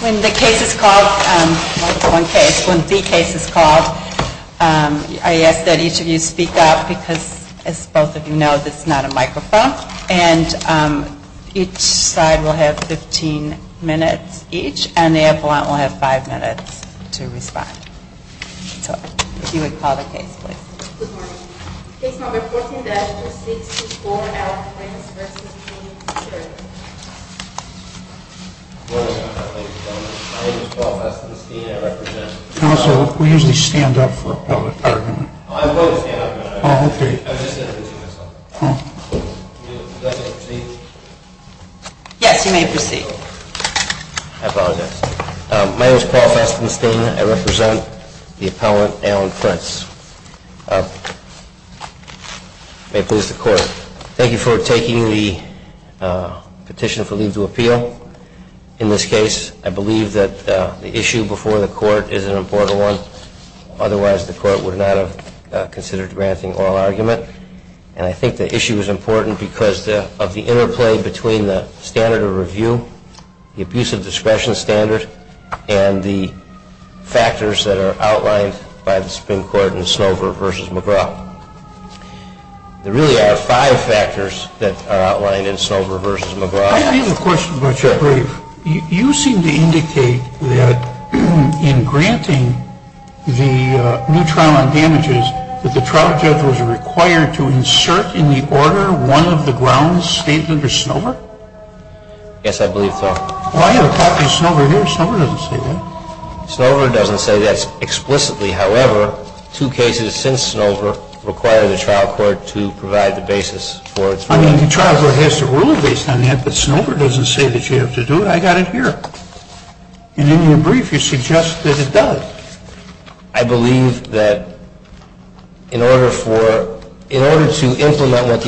When the case is called, when the case is called, I ask that each of you speak up because as both of you know, this is not a microphone, and each side will have 15 minutes each, and the appellant will have 5 minutes to respond. If you would call the case, please. Good morning. Case number 14-06-4L, Prince v. Sheridan. Good morning, Your Honor. My name is Paul Festenstein. I represent... Counsel, we usually stand up for public argument. I'm supposed to stand up, Your Honor. Oh, okay. I was just introducing myself. Oh. May I proceed? Yes, you may proceed. I apologize. My name is Paul Festenstein. I represent the appellant, Alan Prince. May it please the Court. Thank you for taking the petition for leave to appeal. In this case, I believe that the issue before the Court is an important one. Otherwise, the Court would not have considered granting oral argument. And I think the issue is important because of the interplay between the standard of review, the abuse of discretion standard, and the factors that are outlined by the Supreme Court in Snover v. McGraw. There really are five factors that are outlined in Snover v. McGraw. I have a question about your brief. You seem to indicate that in granting the new trial on damages, that the trial judge was required to insert in the order one of the grounds statement of Snover? Yes, I believe so. Well, I have a copy of Snover here. Snover doesn't say that. Snover doesn't say that explicitly. However, two cases since Snover require the trial court to provide the basis for its ruling. I mean, the trial court has to rule based on that, but Snover doesn't say that you have to do it. I got it here. And in your brief, you suggest that it does. I believe that in order for – in order to implement what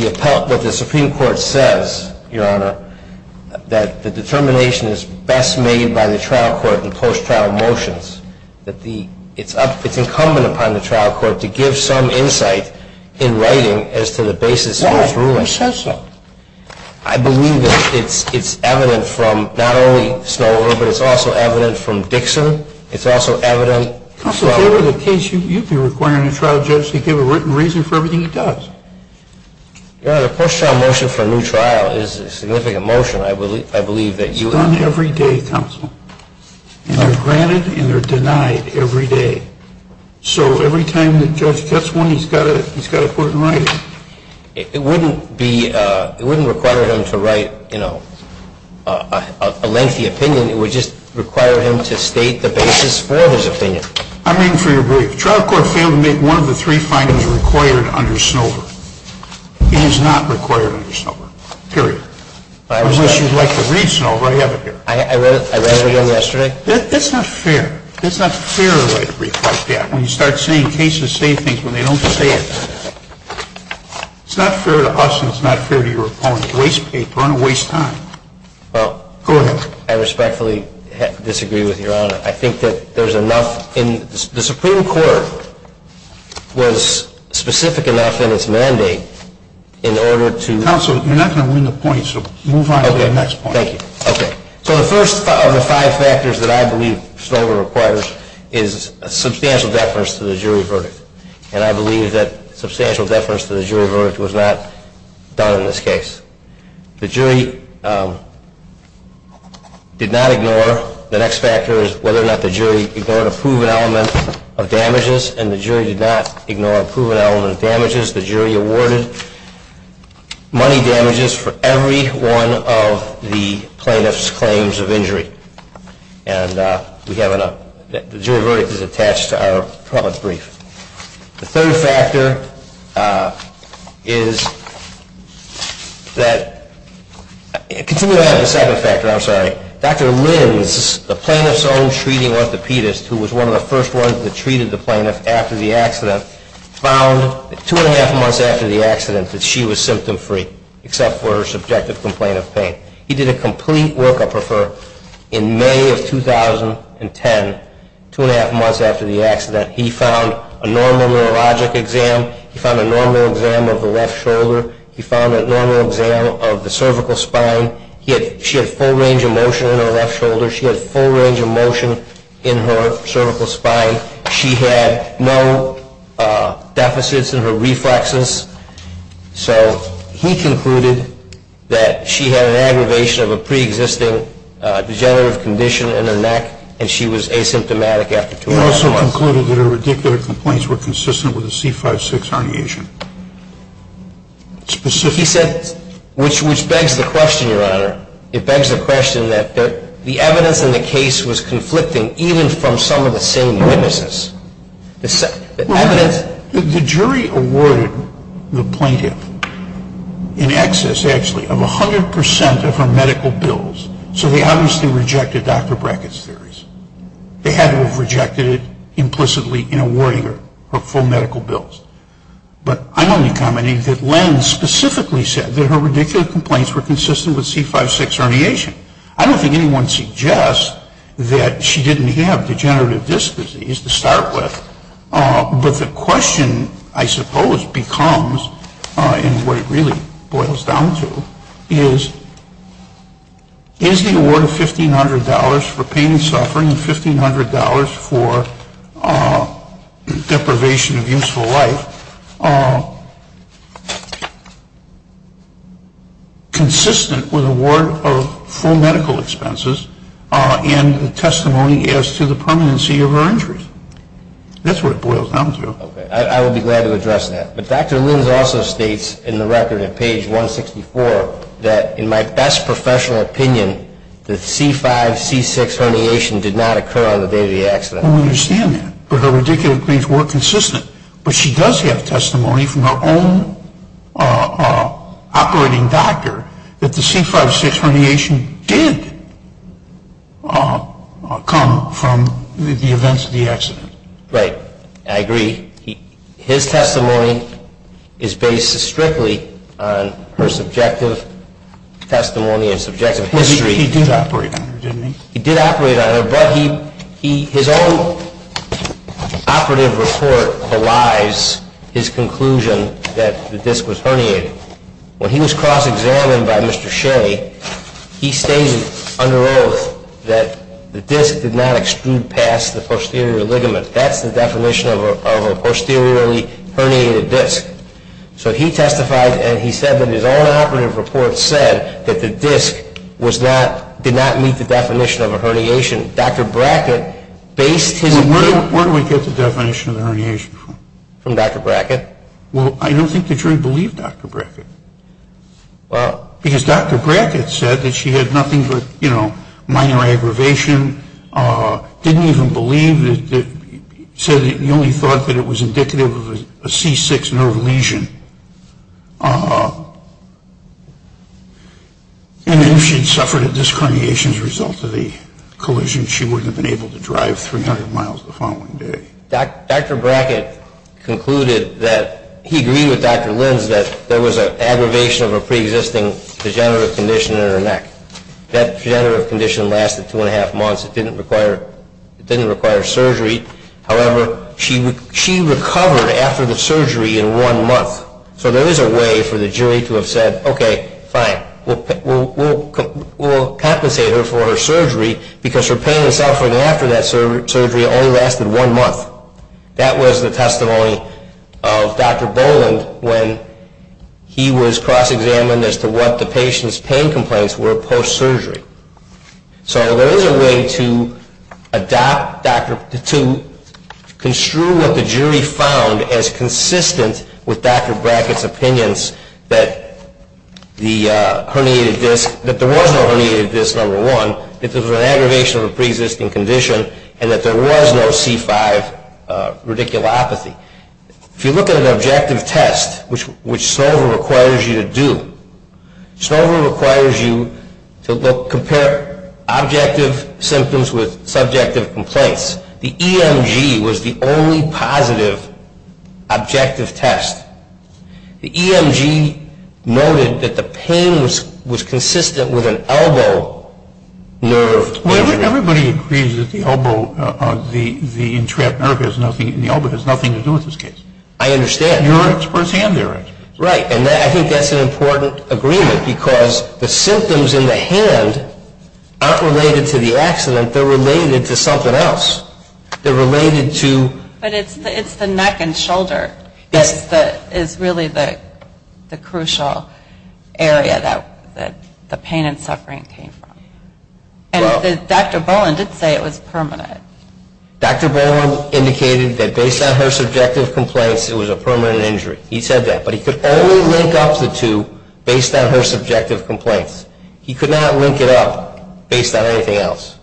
the Supreme Court says, Your Honor, that the determination is best made by the trial court in post-trial motions, that it's incumbent upon the trial court to give some insight in writing as to the basis of its ruling. Snover says so. I believe that it's evident from not only Snover, but it's also evident from Dixon. It's also evident – Counsel, if there was a case you'd be requiring a trial judge to give a written reason for everything he does. Your Honor, the post-trial motion for a new trial is a significant motion. I believe that you – It's done every day, Counsel. And they're granted and they're denied every day. So every time the judge gets one, he's got to put it in writing. It wouldn't be – it wouldn't require him to write, you know, a lengthy opinion. It would just require him to state the basis for his opinion. I'm in for your brief. The trial court failed to make one of the three findings required under Snover. It is not required under Snover, period. Unless you'd like to read Snover, I have it here. I read it again yesterday. That's not fair. That's not fair to write a brief like that. When you start seeing cases say things when they don't say it. It's not fair to us and it's not fair to your opponent. Waste paper and waste time. Well – Go ahead. I respectfully disagree with your Honor. I think that there's enough in – the Supreme Court was specific enough in its mandate in order to – Counsel, you're not going to win the point, so move on to the next point. Okay, thank you. Okay. So the first of the five factors that I believe Snover requires is a substantial deference to the jury verdict. And I believe that substantial deference to the jury verdict was not done in this case. The jury did not ignore – the next factor is whether or not the jury ignored a proven element of damages. And the jury did not ignore a proven element of damages. The jury awarded money damages for every one of the plaintiff's claims of injury. And we have a – the jury verdict is attached to our province brief. The third factor is that – continue to add the second factor. I'm sorry. Dr. Lins, the plaintiff's own treating orthopedist who was one of the first ones that treated the plaintiff after the accident, found that two and a half months after the accident that she was symptom-free except for her subjective complaint of pain. He did a complete workup of her in May of 2010, two and a half months after the accident. He found a normal neurologic exam. He found a normal exam of the left shoulder. He found a normal exam of the cervical spine. She had full range of motion in her left shoulder. She had full range of motion in her cervical spine. She had no deficits in her reflexes. So he concluded that she had an aggravation of a pre-existing degenerative condition in her neck and she was asymptomatic after two and a half months. He also concluded that her radicular complaints were consistent with a C5-6 herniation. Specifically – He said – which begs the question, Your Honor. It begs the question that the evidence in the case was conflicting even from some of the same witnesses. The evidence – The jury awarded the plaintiff in excess, actually, of 100 percent of her medical bills. So they obviously rejected Dr. Brackett's theories. They had to have rejected it implicitly in awarding her her full medical bills. But I'm only commenting that Len specifically said that her radicular complaints were consistent with C5-6 herniation. I don't think anyone suggests that she didn't have degenerative disc disease to start with. But the question, I suppose, becomes – and what it really boils down to – is the award of $1,500 for pain and suffering and $1,500 for deprivation of useful life consistent with award of full medical expenses and testimony as to the permanency of her injuries. That's what it boils down to. Okay. I would be glad to address that. But Dr. Linz also states in the record at page 164 that, in my best professional opinion, the C5-C6 herniation did not occur on the day of the accident. Well, we understand that. But her radicular complaints were consistent. But she does have testimony from her own operating doctor that the C5-C6 herniation did come from the events of the accident. Right. I agree. His testimony is based strictly on her subjective testimony and subjective history. He did operate on her, didn't he? His conclusion that the disc was herniated. When he was cross-examined by Mr. Shea, he stated under oath that the disc did not extrude past the posterior ligament. That's the definition of a posteriorly herniated disc. So he testified and he said that his own operative report said that the disc did not meet the definition of a herniation. Dr. Brackett based his opinion – Where do we get the definition of the herniation from? From Dr. Brackett. Well, I don't think the jury believed Dr. Brackett. Because Dr. Brackett said that she had nothing but, you know, minor aggravation, didn't even believe that – said that he only thought that it was indicative of a C6 nerve lesion. And if she'd suffered a disc herniation as a result of the collision, she wouldn't have been able to drive 300 miles the following day. Dr. Brackett concluded that – he agreed with Dr. Lins that there was an aggravation of a pre-existing degenerative condition in her neck. That degenerative condition lasted two and a half months. It didn't require surgery. However, she recovered after the surgery in one month. So there is a way for the jury to have said, okay, fine, we'll compensate her for her surgery because her pain and suffering after that surgery only lasted one month. That was the testimony of Dr. Boland when he was cross-examined as to what the patient's pain complaints were post-surgery. So there is a way to adopt – to construe what the jury found as consistent with Dr. Brackett's opinions that the herniated disc – that there was no herniated disc, number one, that there was an aggravation of a pre-existing condition, and that there was no C5 radiculopathy. If you look at an objective test, which Snover requires you to do, Snover requires you to compare objective symptoms with subjective complaints. The EMG was the only positive objective test. The EMG noted that the pain was consistent with an elbow nerve injury. Everybody agrees that the elbow – the entrapped nerve in the elbow has nothing to do with this case. I understand. Your experts and their experts. Right. And I think that's an important agreement because the symptoms in the hand aren't related to the accident. They're related to something else. They're related to – But it's the neck and shoulder that is really the crucial area that the pain and suffering came from. And Dr. Boland did say it was permanent. Dr. Boland indicated that based on her subjective complaints, it was a permanent injury. He said that. But he could only link up the two based on her subjective complaints. He could not link it up based on anything else.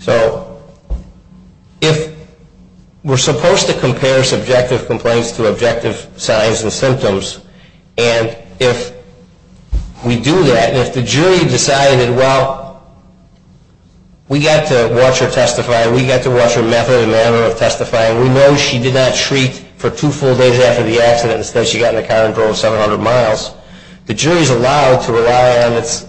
So if we're supposed to compare subjective complaints to objective signs and symptoms, and if we do that, and if the jury decided, well, we got to watch her testify, we got to watch her method and manner of testifying, we know she did not shriek for two full days after the accident, instead she got in a car and drove 700 miles, the jury is allowed to rely on its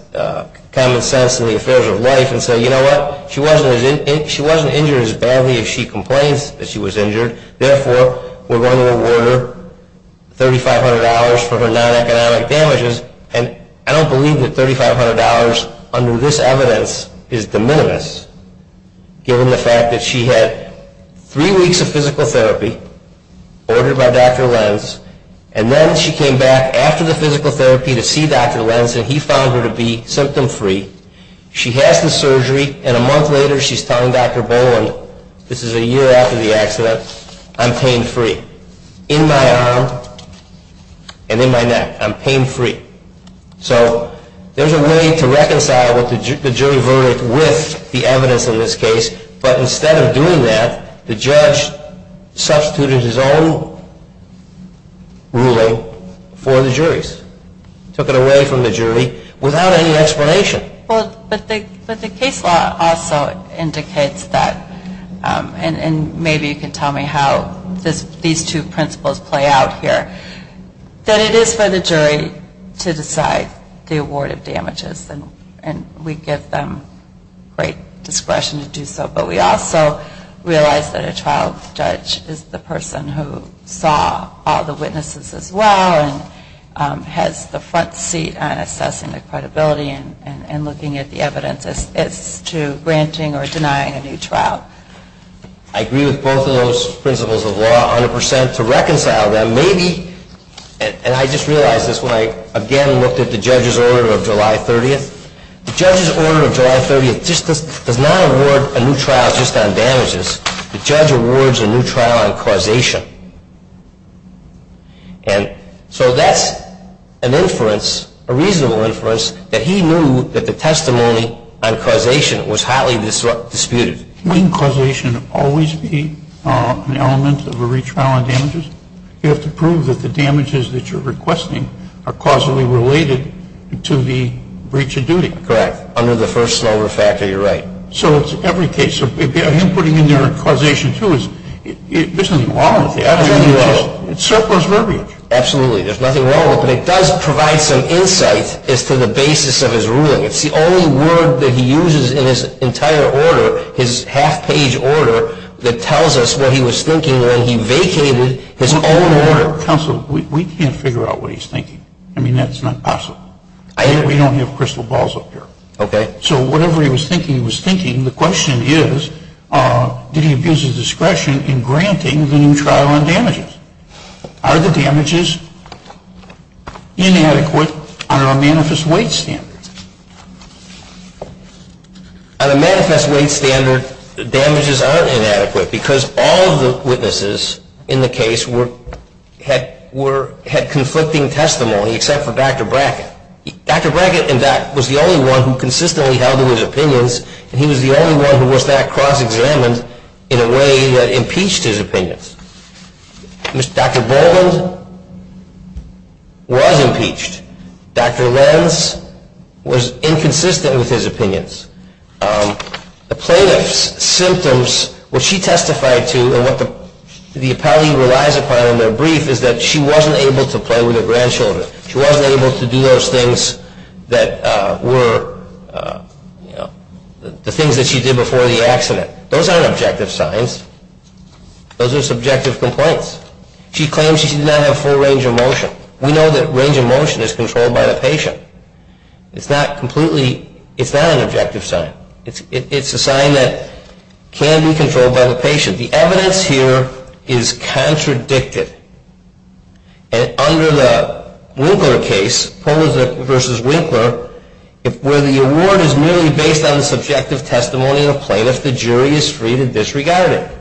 common sense and the affairs of life and say, you know what, she wasn't injured as badly as she complains that she was injured, therefore we're going to award her $3,500 for her non-economic damages. And I don't believe that $3,500 under this evidence is de minimis, given the fact that she had three weeks of physical therapy ordered by Dr. Lenz, and then she came back after the physical therapy to see Dr. Lenz, and he found her to be symptom-free. She has the surgery, and a month later she's telling Dr. Boland, this is a year after the accident, I'm pain-free. In my arm and in my neck, I'm pain-free. So there's a way to reconcile what the jury verdict with the evidence in this case, but instead of doing that, the judge substituted his own ruling for the jury's, took it away from the jury without any explanation. But the case law also indicates that, and maybe you can tell me how these two principles play out here, that it is for the jury to decide the award of damages, and we give them great discretion to do so. But we also realize that a trial judge is the person who saw all the witnesses as well and has the front seat on assessing the credibility and looking at the evidence as to granting or denying a new trial. I agree with both of those principles of law 100%. To reconcile them, maybe, and I just realized this when I again looked at the judge's order of July 30th, the judge's order of July 30th does not award a new trial just on damages. The judge awards a new trial on causation. And so that's an inference, a reasonable inference, that he knew that the testimony on causation was highly disputed. Wouldn't causation always be an element of a retrial on damages? You have to prove that the damages that you're requesting are causally related to the breach of duty. Correct. Under the first lower factor, you're right. So it's every case. So him putting in there causation, too, there's nothing wrong with that. There's nothing wrong. It's surplus verbiage. Absolutely. There's nothing wrong with it. But it does provide some insight as to the basis of his ruling. It's the only word that he uses in his entire order, his half-page order, that tells us what he was thinking when he vacated his own order. Counsel, we can't figure out what he's thinking. I mean, that's not possible. We don't have crystal balls up here. Okay. So whatever he was thinking, he was thinking. The question is, did he abuse his discretion in granting the new trial on damages? Are the damages inadequate under a manifest weight standard? On a manifest weight standard, the damages aren't inadequate because all of the witnesses in the case had conflicting testimony except for Dr. Brackett. Dr. Brackett, in fact, was the only one who consistently held to his opinions, and he was the only one who was not cross-examined in a way that impeached his opinions. Dr. Boland was impeached. Dr. Lenz was inconsistent with his opinions. The plaintiff's symptoms, what she testified to and what the appellee relies upon in their brief, is that she wasn't able to play with her grandchildren. She wasn't able to do those things that were the things that she did before the accident. Those aren't objective signs. Those are subjective complaints. She claims she did not have full range of motion. We know that range of motion is controlled by the patient. It's not completely an objective sign. It's a sign that can be controlled by the patient. The evidence here is contradicted. Under the Winkler case, Polizek v. Winkler, where the award is merely based on the subjective testimony of the plaintiff, the jury is free to disregard it.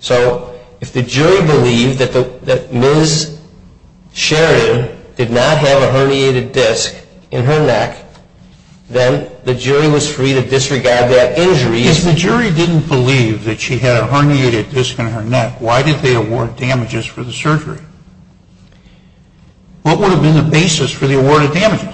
So if the jury believed that Ms. Sheridan did not have a herniated disc in her neck, then the jury was free to disregard that injury. If the jury didn't believe that she had a herniated disc in her neck, why did they award damages for the surgery? What would have been the basis for the awarded damages?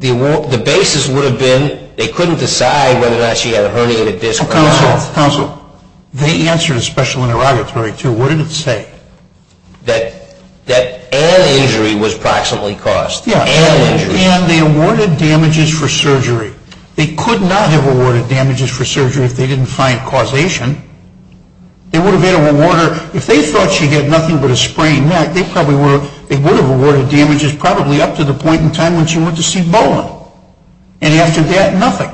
The basis would have been they couldn't decide whether or not she had a herniated disc or not. Counsel, they answered a special interrogatory, too. What did it say? That an injury was proximately caused. Yeah, and they awarded damages for surgery. They could not have awarded damages for surgery if they didn't find causation. They would have had a rewarder. If they thought she had nothing but a sprained neck, they would have awarded damages probably up to the point in time when she went to see Boland. And after that, nothing.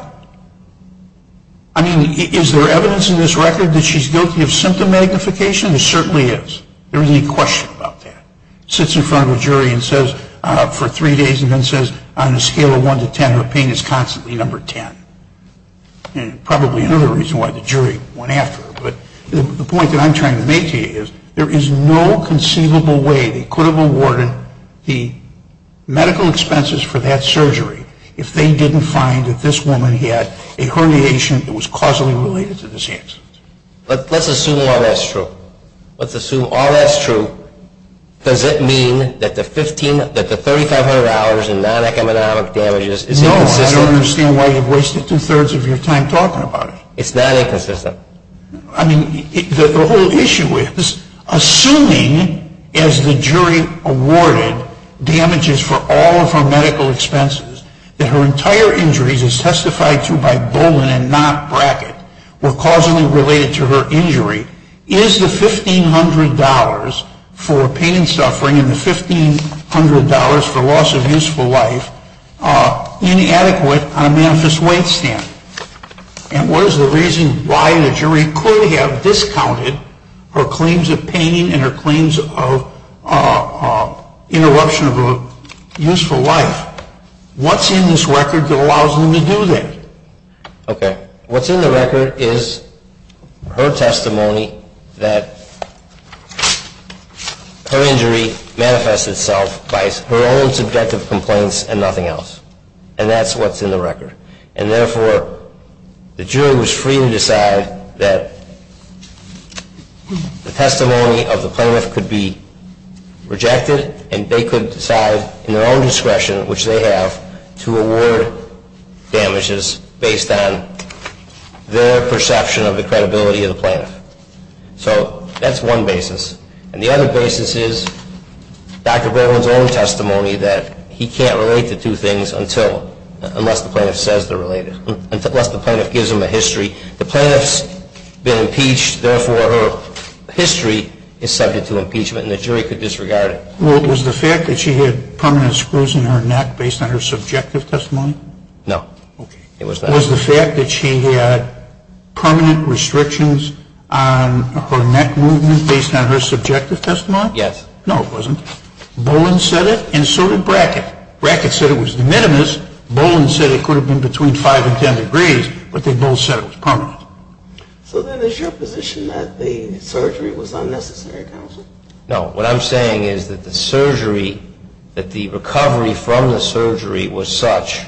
I mean, is there evidence in this record that she's guilty of symptom magnification? There certainly is. There isn't any question about that. Sits in front of a jury for three days and then says on a scale of 1 to 10, her pain is constantly number 10. And probably another reason why the jury went after her. But the point that I'm trying to make to you is there is no conceivable way they could have awarded the medical expenses for that surgery if they didn't find that this woman had a herniation that was causally related to this accident. But let's assume all that's true. Let's assume all that's true. Does it mean that the $3,500 in non-economic damages is inconsistent? I don't understand why you've wasted two-thirds of your time talking about it. It's not inconsistent. I mean, the whole issue is, assuming as the jury awarded damages for all of her medical expenses that her entire injuries as testified to by Boland and not Brackett were causally related to her injury, is the $1,500 for pain and suffering and the $1,500 for loss of useful life inadequate on a manifest weight stand? And what is the reason why the jury could have discounted her claims of pain and her claims of interruption of a useful life? What's in this record that allows them to do that? Okay. What's in the record is her testimony that her injury manifested itself by her own subjective complaints and nothing else. And that's what's in the record. And therefore, the jury was free to decide that the testimony of the plaintiff could be rejected and they could decide in their own discretion, which they have, to award damages based on their perception of the credibility of the plaintiff. So that's one basis. And the other basis is Dr. Boland's own testimony that he can't relate the two things unless the plaintiff says they're related, unless the plaintiff gives them a history. The plaintiff's been impeached. Therefore, her history is subject to impeachment and the jury could disregard it. Was the fact that she had permanent screws in her neck based on her subjective testimony? No. Okay. It was not. Was the fact that she had permanent restrictions on her neck movement based on her subjective testimony? Yes. No, it wasn't. Boland said it and so did Brackett. Brackett said it was de minimis. Boland said it could have been between 5 and 10 degrees, but they both said it was permanent. So then is your position that the surgery was unnecessary, counsel? No. What I'm saying is that the surgery, that the recovery from the surgery was such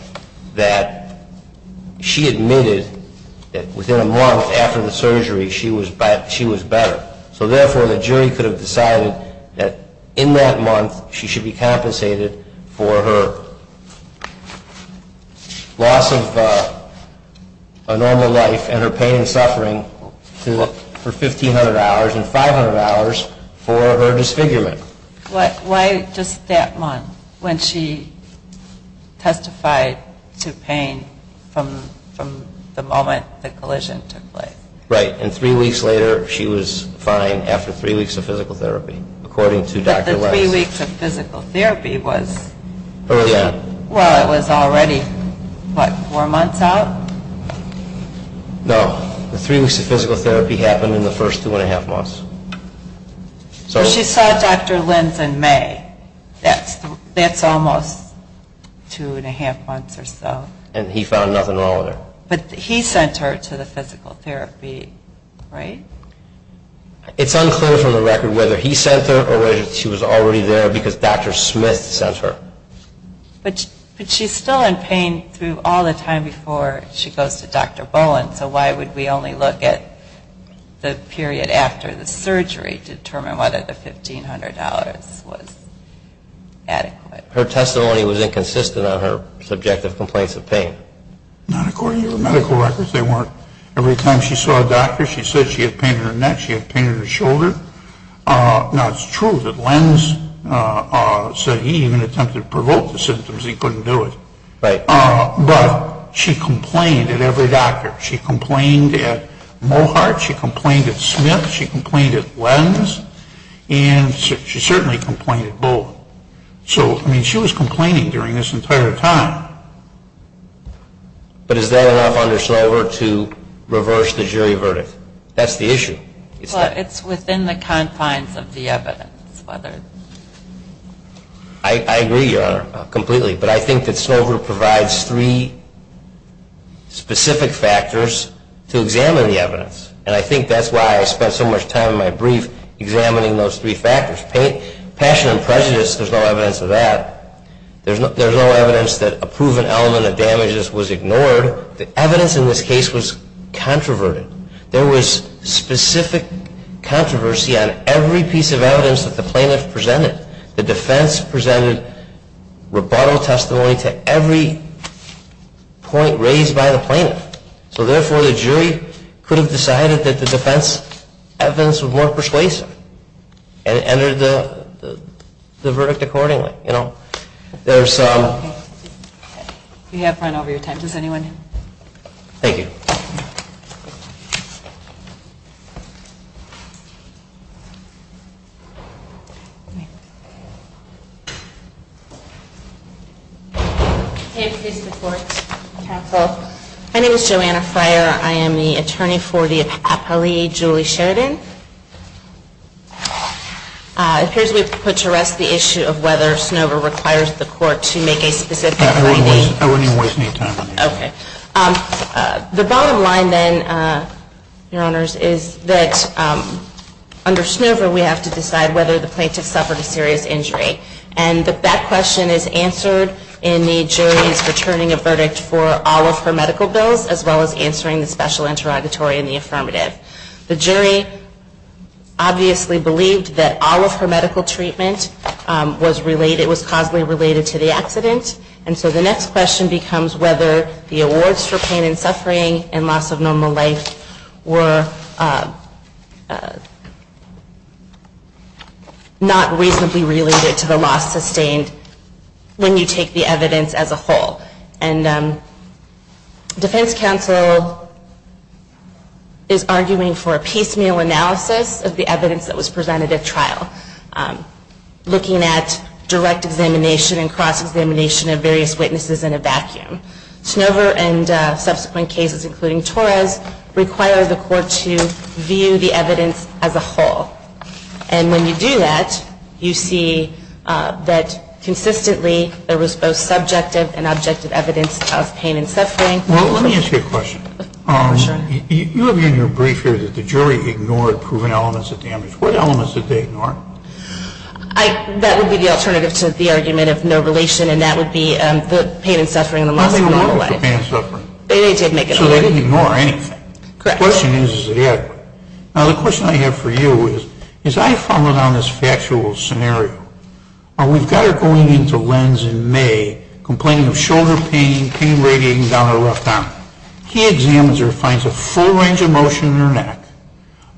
that she admitted that within a month after the surgery she was better. So therefore, the jury could have decided that in that month she should be compensated for her loss of a normal life and her pain and suffering for 1,500 hours and 500 hours for her disfigurement. Why just that month when she testified to pain from the moment the collision took place? Right. And three weeks later she was fine after three weeks of physical therapy according to Dr. West. Well, the three weeks of physical therapy was already, what, four months out? No. The three weeks of physical therapy happened in the first two and a half months. So she saw Dr. Lenz in May. That's almost two and a half months or so. And he found nothing wrong with her. But he sent her to the physical therapy, right? It's unclear from the record whether he sent her or whether she was already there because Dr. Smith sent her. But she's still in pain through all the time before she goes to Dr. Bowen. So why would we only look at the period after the surgery to determine whether the $1,500 was adequate? Her testimony was inconsistent on her subjective complaints of pain. Not according to her medical records. Every time she saw a doctor she said she had pain in her neck, she had pain in her shoulder. Now, it's true that Lenz said he even attempted to provoke the symptoms and he couldn't do it. But she complained at every doctor. She complained at Mohart. She complained at Smith. She complained at Lenz. And she certainly complained at Bowen. So, I mean, she was complaining during this entire time. But is that enough under Snover to reverse the jury verdict? That's the issue. It's within the confines of the evidence. I agree, Your Honor, completely. But I think that Snover provides three specific factors to examine the evidence. And I think that's why I spent so much time in my brief examining those three factors. Passion and prejudice, there's no evidence of that. There's no evidence that a proven element of damages was ignored. The evidence in this case was controverted. There was specific controversy on every piece of evidence that the plaintiff presented. The defense presented rebuttal testimony to every point raised by the plaintiff. So, therefore, the jury could have decided that the defense evidence was more persuasive and entered the verdict accordingly. There's some. We have run over your time. Does anyone? Thank you. Can you please report, counsel? My name is Joanna Fryer. I am the attorney for the appellee, Julie Sheridan. It appears we've put to rest the issue of whether Snover requires the court to make a specific finding. I wouldn't even waste any time on this. Okay. The bottom line, then, Your Honors, is that under Snover, we have to decide whether the plaintiff suffered a serious injury. And that question is answered in the jury's returning a verdict for all of her medical bills as well as answering the special interrogatory and the affirmative. The jury obviously believed that all of her medical treatment was causally related to the accident. And so the next question becomes whether the awards for pain and suffering and loss of normal life were not reasonably related to the loss sustained when you take the evidence as a whole. And defense counsel is arguing for a piecemeal analysis of the evidence that was presented at trial, looking at direct examination and cross-examination of various witnesses in a vacuum. Snover and subsequent cases, including Torres, require the court to view the evidence as a whole. And when you do that, you see that consistently there was both subjective and objective evidence of pain and suffering. Well, let me ask you a question. Sure. You have in your brief here that the jury ignored proven elements of damage. What elements did they ignore? That would be the alternative to the argument of no relation, and that would be the pain and suffering and the loss of normal life. They ignored the pain and suffering. They did make an argument. So they didn't ignore anything. Correct. The question is, is it adequate? Now, the question I have for you is, as I follow down this factual scenario, we've got her going into Lenz in May complaining of shoulder pain, pain radiating down her left arm. He examines her and finds a full range of motion in her neck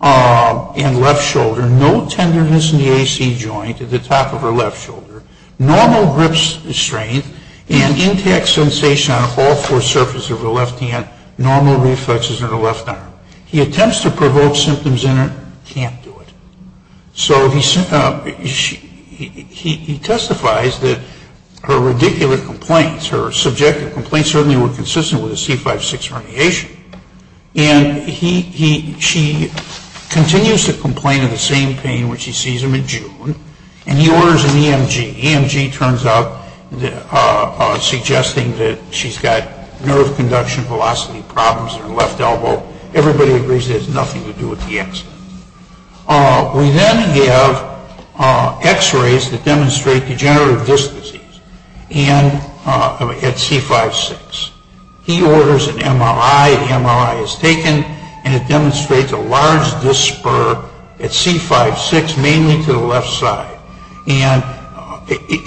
and left shoulder, no tenderness in the AC joint at the top of her left shoulder, normal grip strength and intact sensation on all four surfaces of her left hand, normal reflexes in her left arm. He attempts to provoke symptoms in her. Can't do it. So he testifies that her radicular complaints, her subjective complaints, certainly were consistent with a C5-6 herniation, and she continues to complain of the same pain when she sees him in June, and he orders an EMG. The EMG turns up suggesting that she's got nerve conduction velocity problems in her left elbow. Everybody agrees it has nothing to do with the accident. We then have X-rays that demonstrate degenerative disc disease at C5-6. He orders an MRI. The MRI is taken, and it demonstrates a large disc spur at C5-6, mainly to the left side. And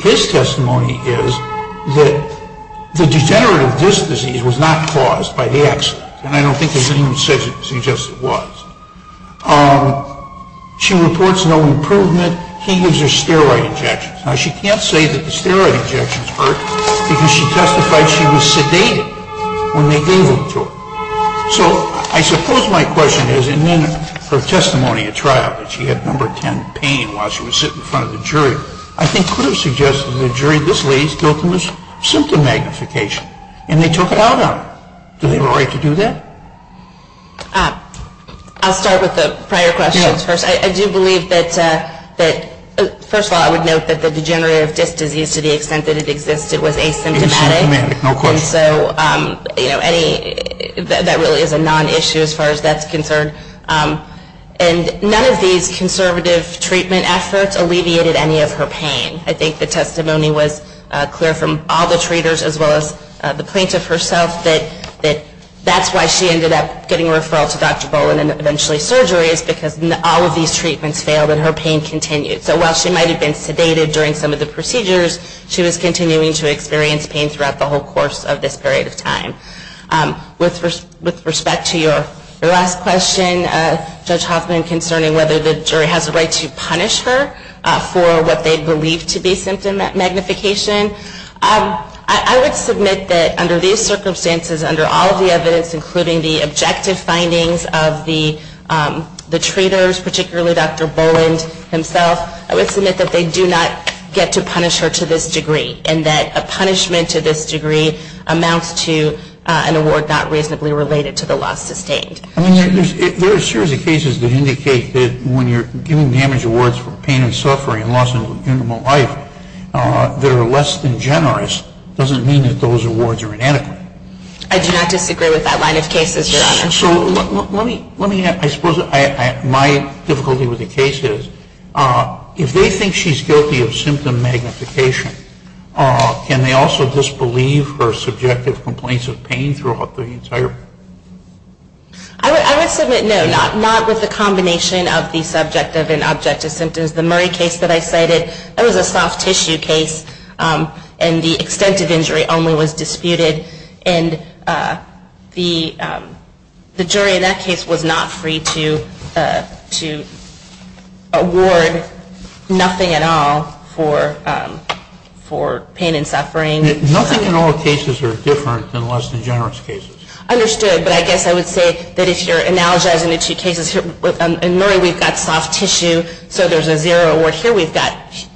his testimony is that the degenerative disc disease was not caused by the accident, and I don't think there's anyone who suggests it was. She reports no improvement. He gives her steroid injections. Now, she can't say that the steroid injections hurt, because she testified she was sedated when they gave them to her. So I suppose my question is, in her testimony at trial, that she had number 10 pain while she was sitting in front of the jury, I think could have suggested to the jury this lady is guilty of symptom magnification, and they took it out on her. Do they have a right to do that? I'll start with the prior questions first. I do believe that, first of all, I would note that the degenerative disc disease, to the extent that it exists, it was asymptomatic. Asymptomatic, no question. And so, you know, that really is a non-issue as far as that's concerned. And none of these conservative treatment efforts alleviated any of her pain. I think the testimony was clear from all the treaters as well as the plaintiff herself that that's why she ended up getting a referral to Dr. Boland and eventually surgery, is because all of these treatments failed and her pain continued. So while she might have been sedated during some of the procedures, she was continuing to experience pain throughout the whole course of this period of time. With respect to your last question, Judge Hoffman, concerning whether the jury has a right to punish her for what they believe to be symptom magnification, I would submit that under these circumstances, under all of the evidence, including the objective findings of the treaters, particularly Dr. Boland himself, I would submit that they do not get to punish her to this degree and that a punishment to this degree amounts to an award not reasonably related to the loss sustained. I mean, there are a series of cases that indicate that when you're giving damage awards for pain and suffering and loss in human life that are less than generous doesn't mean that those awards are inadequate. I do not disagree with that line of cases, Your Honor. So let me ask. I suppose my difficulty with the case is if they think she's guilty of symptom magnification, can they also disbelieve her subjective complaints of pain throughout the entire? I would submit no, not with the combination of the subjective and objective symptoms. The Murray case that I cited, that was a soft tissue case, and the extent of injury only was disputed. And the jury in that case was not free to award nothing at all for pain and suffering. Nothing in all cases are different than less than generous cases. Understood, but I guess I would say that if you're analogizing the two cases, in Murray we've got soft tissue, so there's a zero award. Here we've got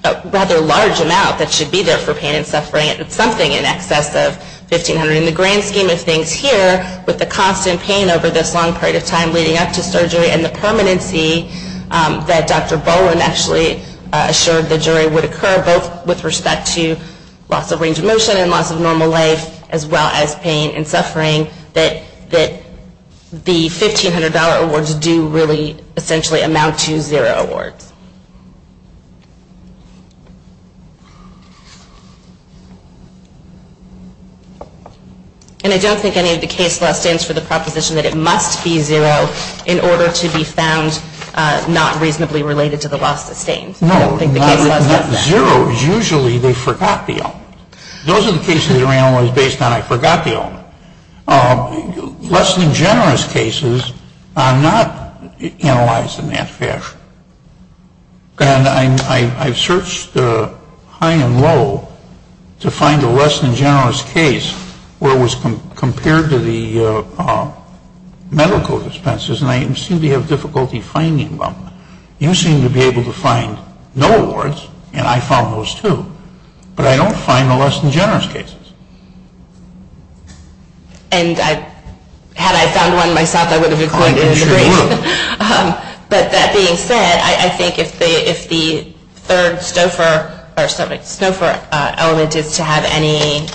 a rather large amount that should be there for pain and suffering. It's something in excess of $1,500. In the grand scheme of things here, with the constant pain over this long period of time leading up to surgery and the permanency that Dr. Bowen actually assured the jury would occur, both with respect to loss of range of motion and loss of normal life as well as pain and suffering, that the $1,500 awards do really essentially amount to zero awards. And I don't think any of the case law stands for the proposition that it must be zero in order to be found not reasonably related to the loss sustained. I don't think the case law says that. Those are the cases that are analyzed based on I forgot the other. Less than generous cases are not analyzed in that fashion. And I've searched high and low to find a less than generous case where it was compared to the medical expenses and I seem to have difficulty finding them. You seem to be able to find no awards, and I found those too. But I don't find the less than generous cases. And had I found one myself, I would have included it in the brief. But that being said, I think if the third Stouffer element is to have any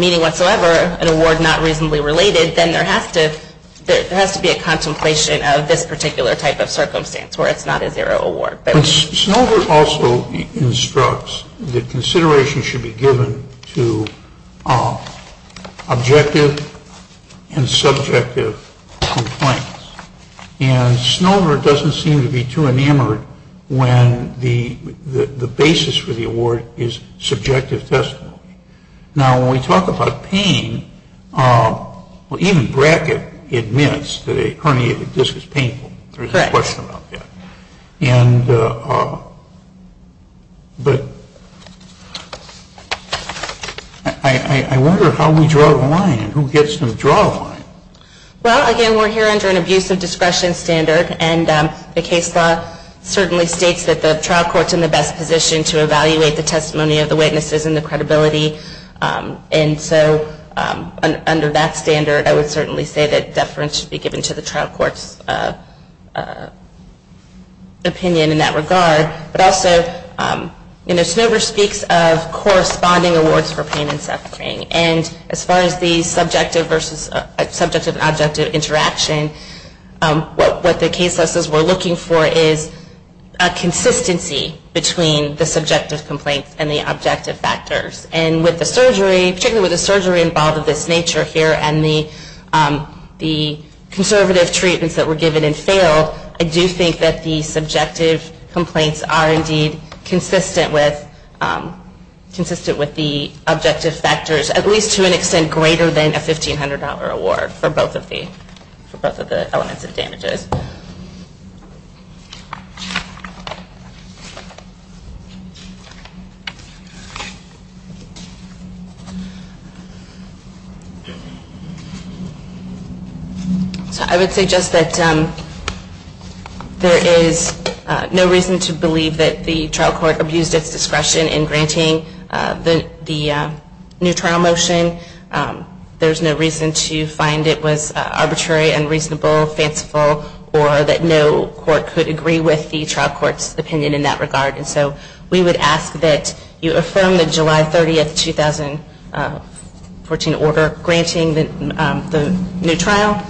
meaning whatsoever, an award not reasonably related, then there has to be a contemplation of this particular type of circumstance where it's not a zero award. And Snover also instructs that consideration should be given to objective and subjective complaints. And Snover doesn't seem to be too enamored when the basis for the award is subjective testimony. Now, when we talk about pain, even Brackett admits that a herniated disc is painful. There's a question about that. But I wonder how we draw the line and who gets to draw the line. Well, again, we're here under an abuse of discretion standard, and the case law certainly states that the trial court's in the best position to evaluate the testimony of the witnesses and the credibility. And so under that standard, I would certainly say that deference should be given to the trial court's opinion in that regard. But also, Snover speaks of corresponding awards for pain and suffering. And as far as the subjective versus subjective-objective interaction, what the case law says we're looking for is a consistency between the subjective complaints and the objective factors. And particularly with the surgery involved of this nature here and the conservative treatments that were given and failed, I do think that the subjective complaints are indeed consistent with the objective factors, at least to an extent greater than a $1,500 award for both of the elements of damages. So I would suggest that there is no reason to believe that the trial court abused its discretion in granting the new trial motion. There's no reason to find it was arbitrary, unreasonable, fanciful, or that no court could agree with the trial court's opinion in that regard. You affirm the July 30, 2014 order granting the new trial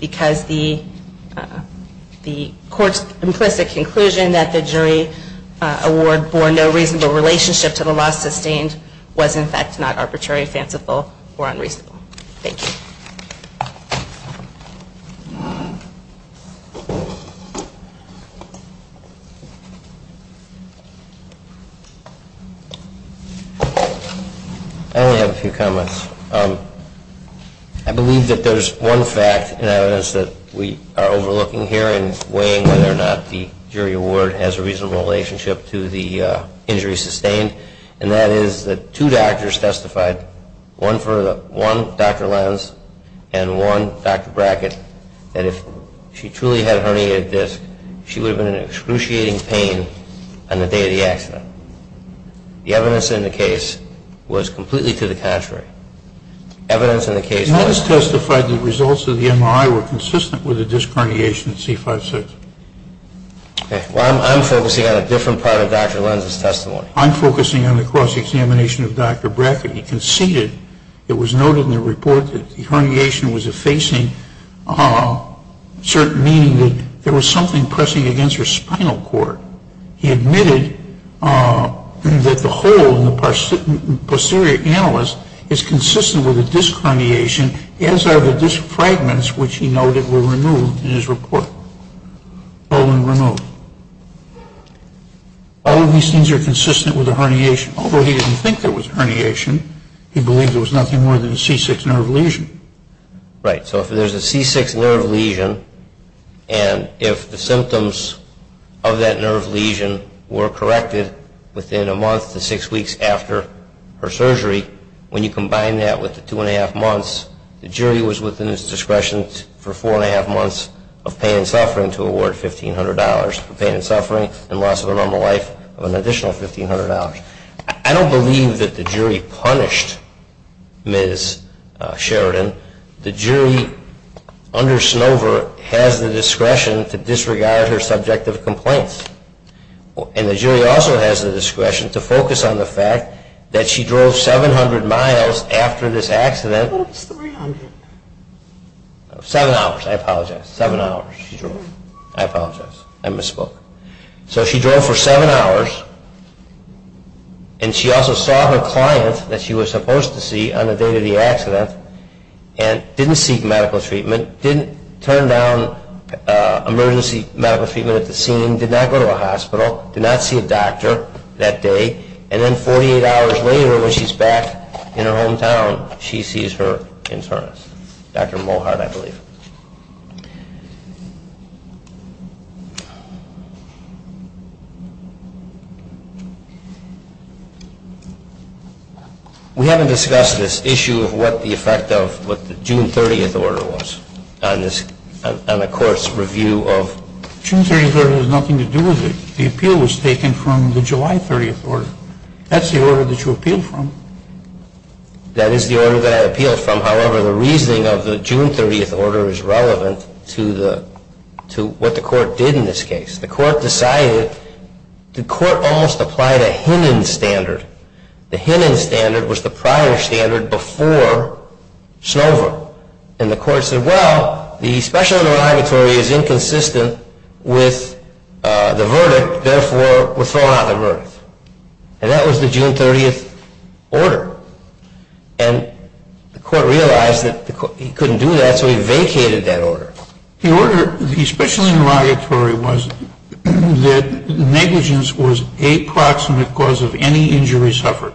because the court's implicit conclusion that the jury award bore no reasonable relationship to the law sustained was, in fact, not arbitrary, fanciful, or unreasonable. Thank you. I only have a few comments. I believe that there's one fact in evidence that we are overlooking here in weighing whether or not the jury award has a reasonable relationship to the injury sustained, and that is that two doctors testified, one Dr. Lenz and one Dr. Brackett, that if she truly had herniated disc, she would have been in excruciating pain on the day of the accident. The evidence in the case was completely to the contrary. Evidence in the case was... Lenz testified that the results of the MRI were consistent with the disc herniation at C5-6. Well, I'm focusing on a different part of Dr. Lenz's testimony. I'm focusing on the cross-examination of Dr. Brackett. He conceded, it was noted in the report, that the herniation was effacing, certain meaning that there was something pressing against her spinal cord. He admitted that the hole in the posterior annulus is consistent with the disc herniation, as are the disc fragments, which he noted were removed in his report. All of these things are consistent with the herniation. Although he didn't think there was herniation, he believed there was nothing more than a C6 nerve lesion. Right, so if there's a C6 nerve lesion, and if the symptoms of that nerve lesion were corrected within a month to six weeks after her surgery, when you combine that with the two-and-a-half months, the jury was within its discretion for four-and-a-half months of pain and suffering to award $1,500 for pain and suffering and loss of a normal life of an additional $1,500. I don't believe that the jury punished Ms. Sheridan. The jury under Snover has the discretion to disregard her subjective complaints. And the jury also has the discretion to focus on the fact that she drove 700 miles after this accident. What's 300? Seven hours, I apologize, seven hours she drove. I apologize, I misspoke. So she drove for seven hours, and she also saw her client that she was supposed to see on the day of the accident and didn't seek medical treatment, didn't turn down emergency medical treatment at the scene, did not go to a hospital, did not see a doctor that day. And then 48 hours later when she's back in her hometown, she sees her internist, Dr. Mohart, I believe. We haven't discussed this issue of what the effect of what the June 30th order was on the court's review of. June 30th order has nothing to do with it. The appeal was taken from the July 30th order. That's the order that you appealed from. That is the order that I appealed from. However, the reasoning of the June 30th order is relevant to what the court did in this case. The court decided, the court almost applied a Hinnon standard. The Hinnon standard was the prior standard before Snover. And the court said, well, the special interrogatory is inconsistent with the verdict, therefore we're throwing out the verdict. And that was the June 30th order. And the court realized that he couldn't do that, so he vacated that order. The order, the special interrogatory was that negligence was a proximate cause of any injury suffered.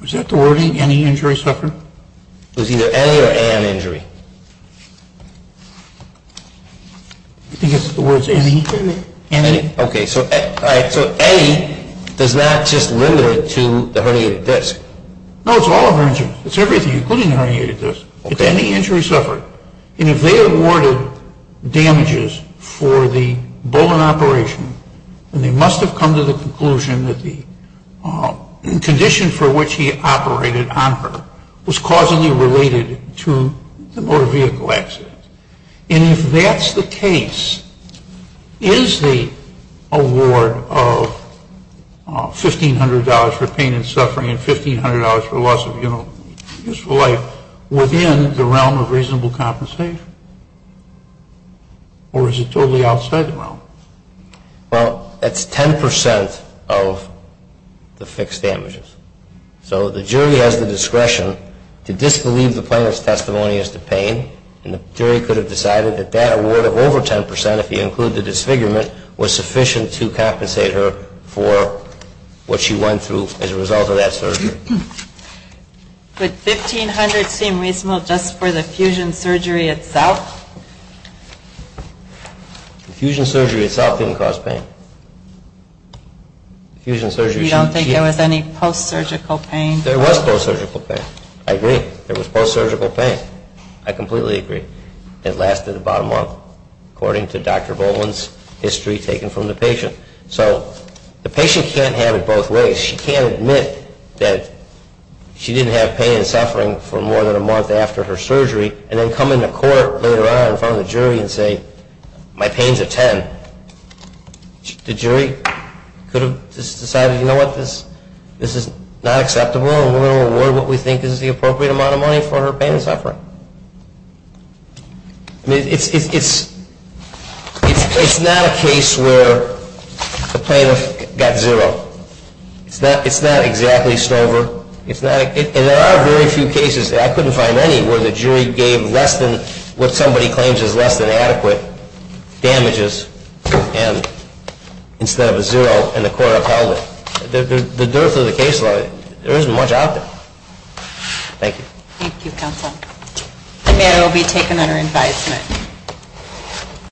Was that the wording, any injury suffered? It was either any or an injury. I think it's the words any. Any. Okay. So A, does that just limit it to the herniated disc? No, it's all of her injuries. It's everything, including the herniated disc. Okay. It's any injury suffered. And if they awarded damages for the Bullen operation, then they must have come to the conclusion that the condition for which he operated on her was causally related to the motor vehicle accident. And if that's the case, is the award of $1,500 for pain and suffering and $1,500 for loss of useful life within the realm of reasonable compensation? Or is it totally outside the realm? Well, that's 10% of the fixed damages. So the jury has the discretion to disbelieve the plaintiff's testimony as to pain, and the jury could have decided that that award of over 10%, if you include the disfigurement, was sufficient to compensate her for what she went through as a result of that surgery. Would $1,500 seem reasonable just for the fusion surgery itself? The fusion surgery itself didn't cause pain. You don't think there was any post-surgical pain? There was post-surgical pain. I agree. There was post-surgical pain. I completely agree. It lasted about a month. According to Dr. Bowman's history taken from the patient. So the patient can't have it both ways. She can't admit that she didn't have pain and suffering for more than a month after her surgery and then come into court later on in front of the jury and say, my pain's a 10. The jury could have just decided, you know what, this is not acceptable and we're going to award what we think is the appropriate amount of money for her pain and suffering. It's not a case where the plaintiff got zero. It's not exactly Stover. And there are very few cases, I couldn't find any, where the jury gave less than what somebody claims is less than adequate damages instead of a zero and the court upheld it. The dearth of the case law, there isn't much out there. Thank you. Thank you, counsel. The matter will be taken under advisement.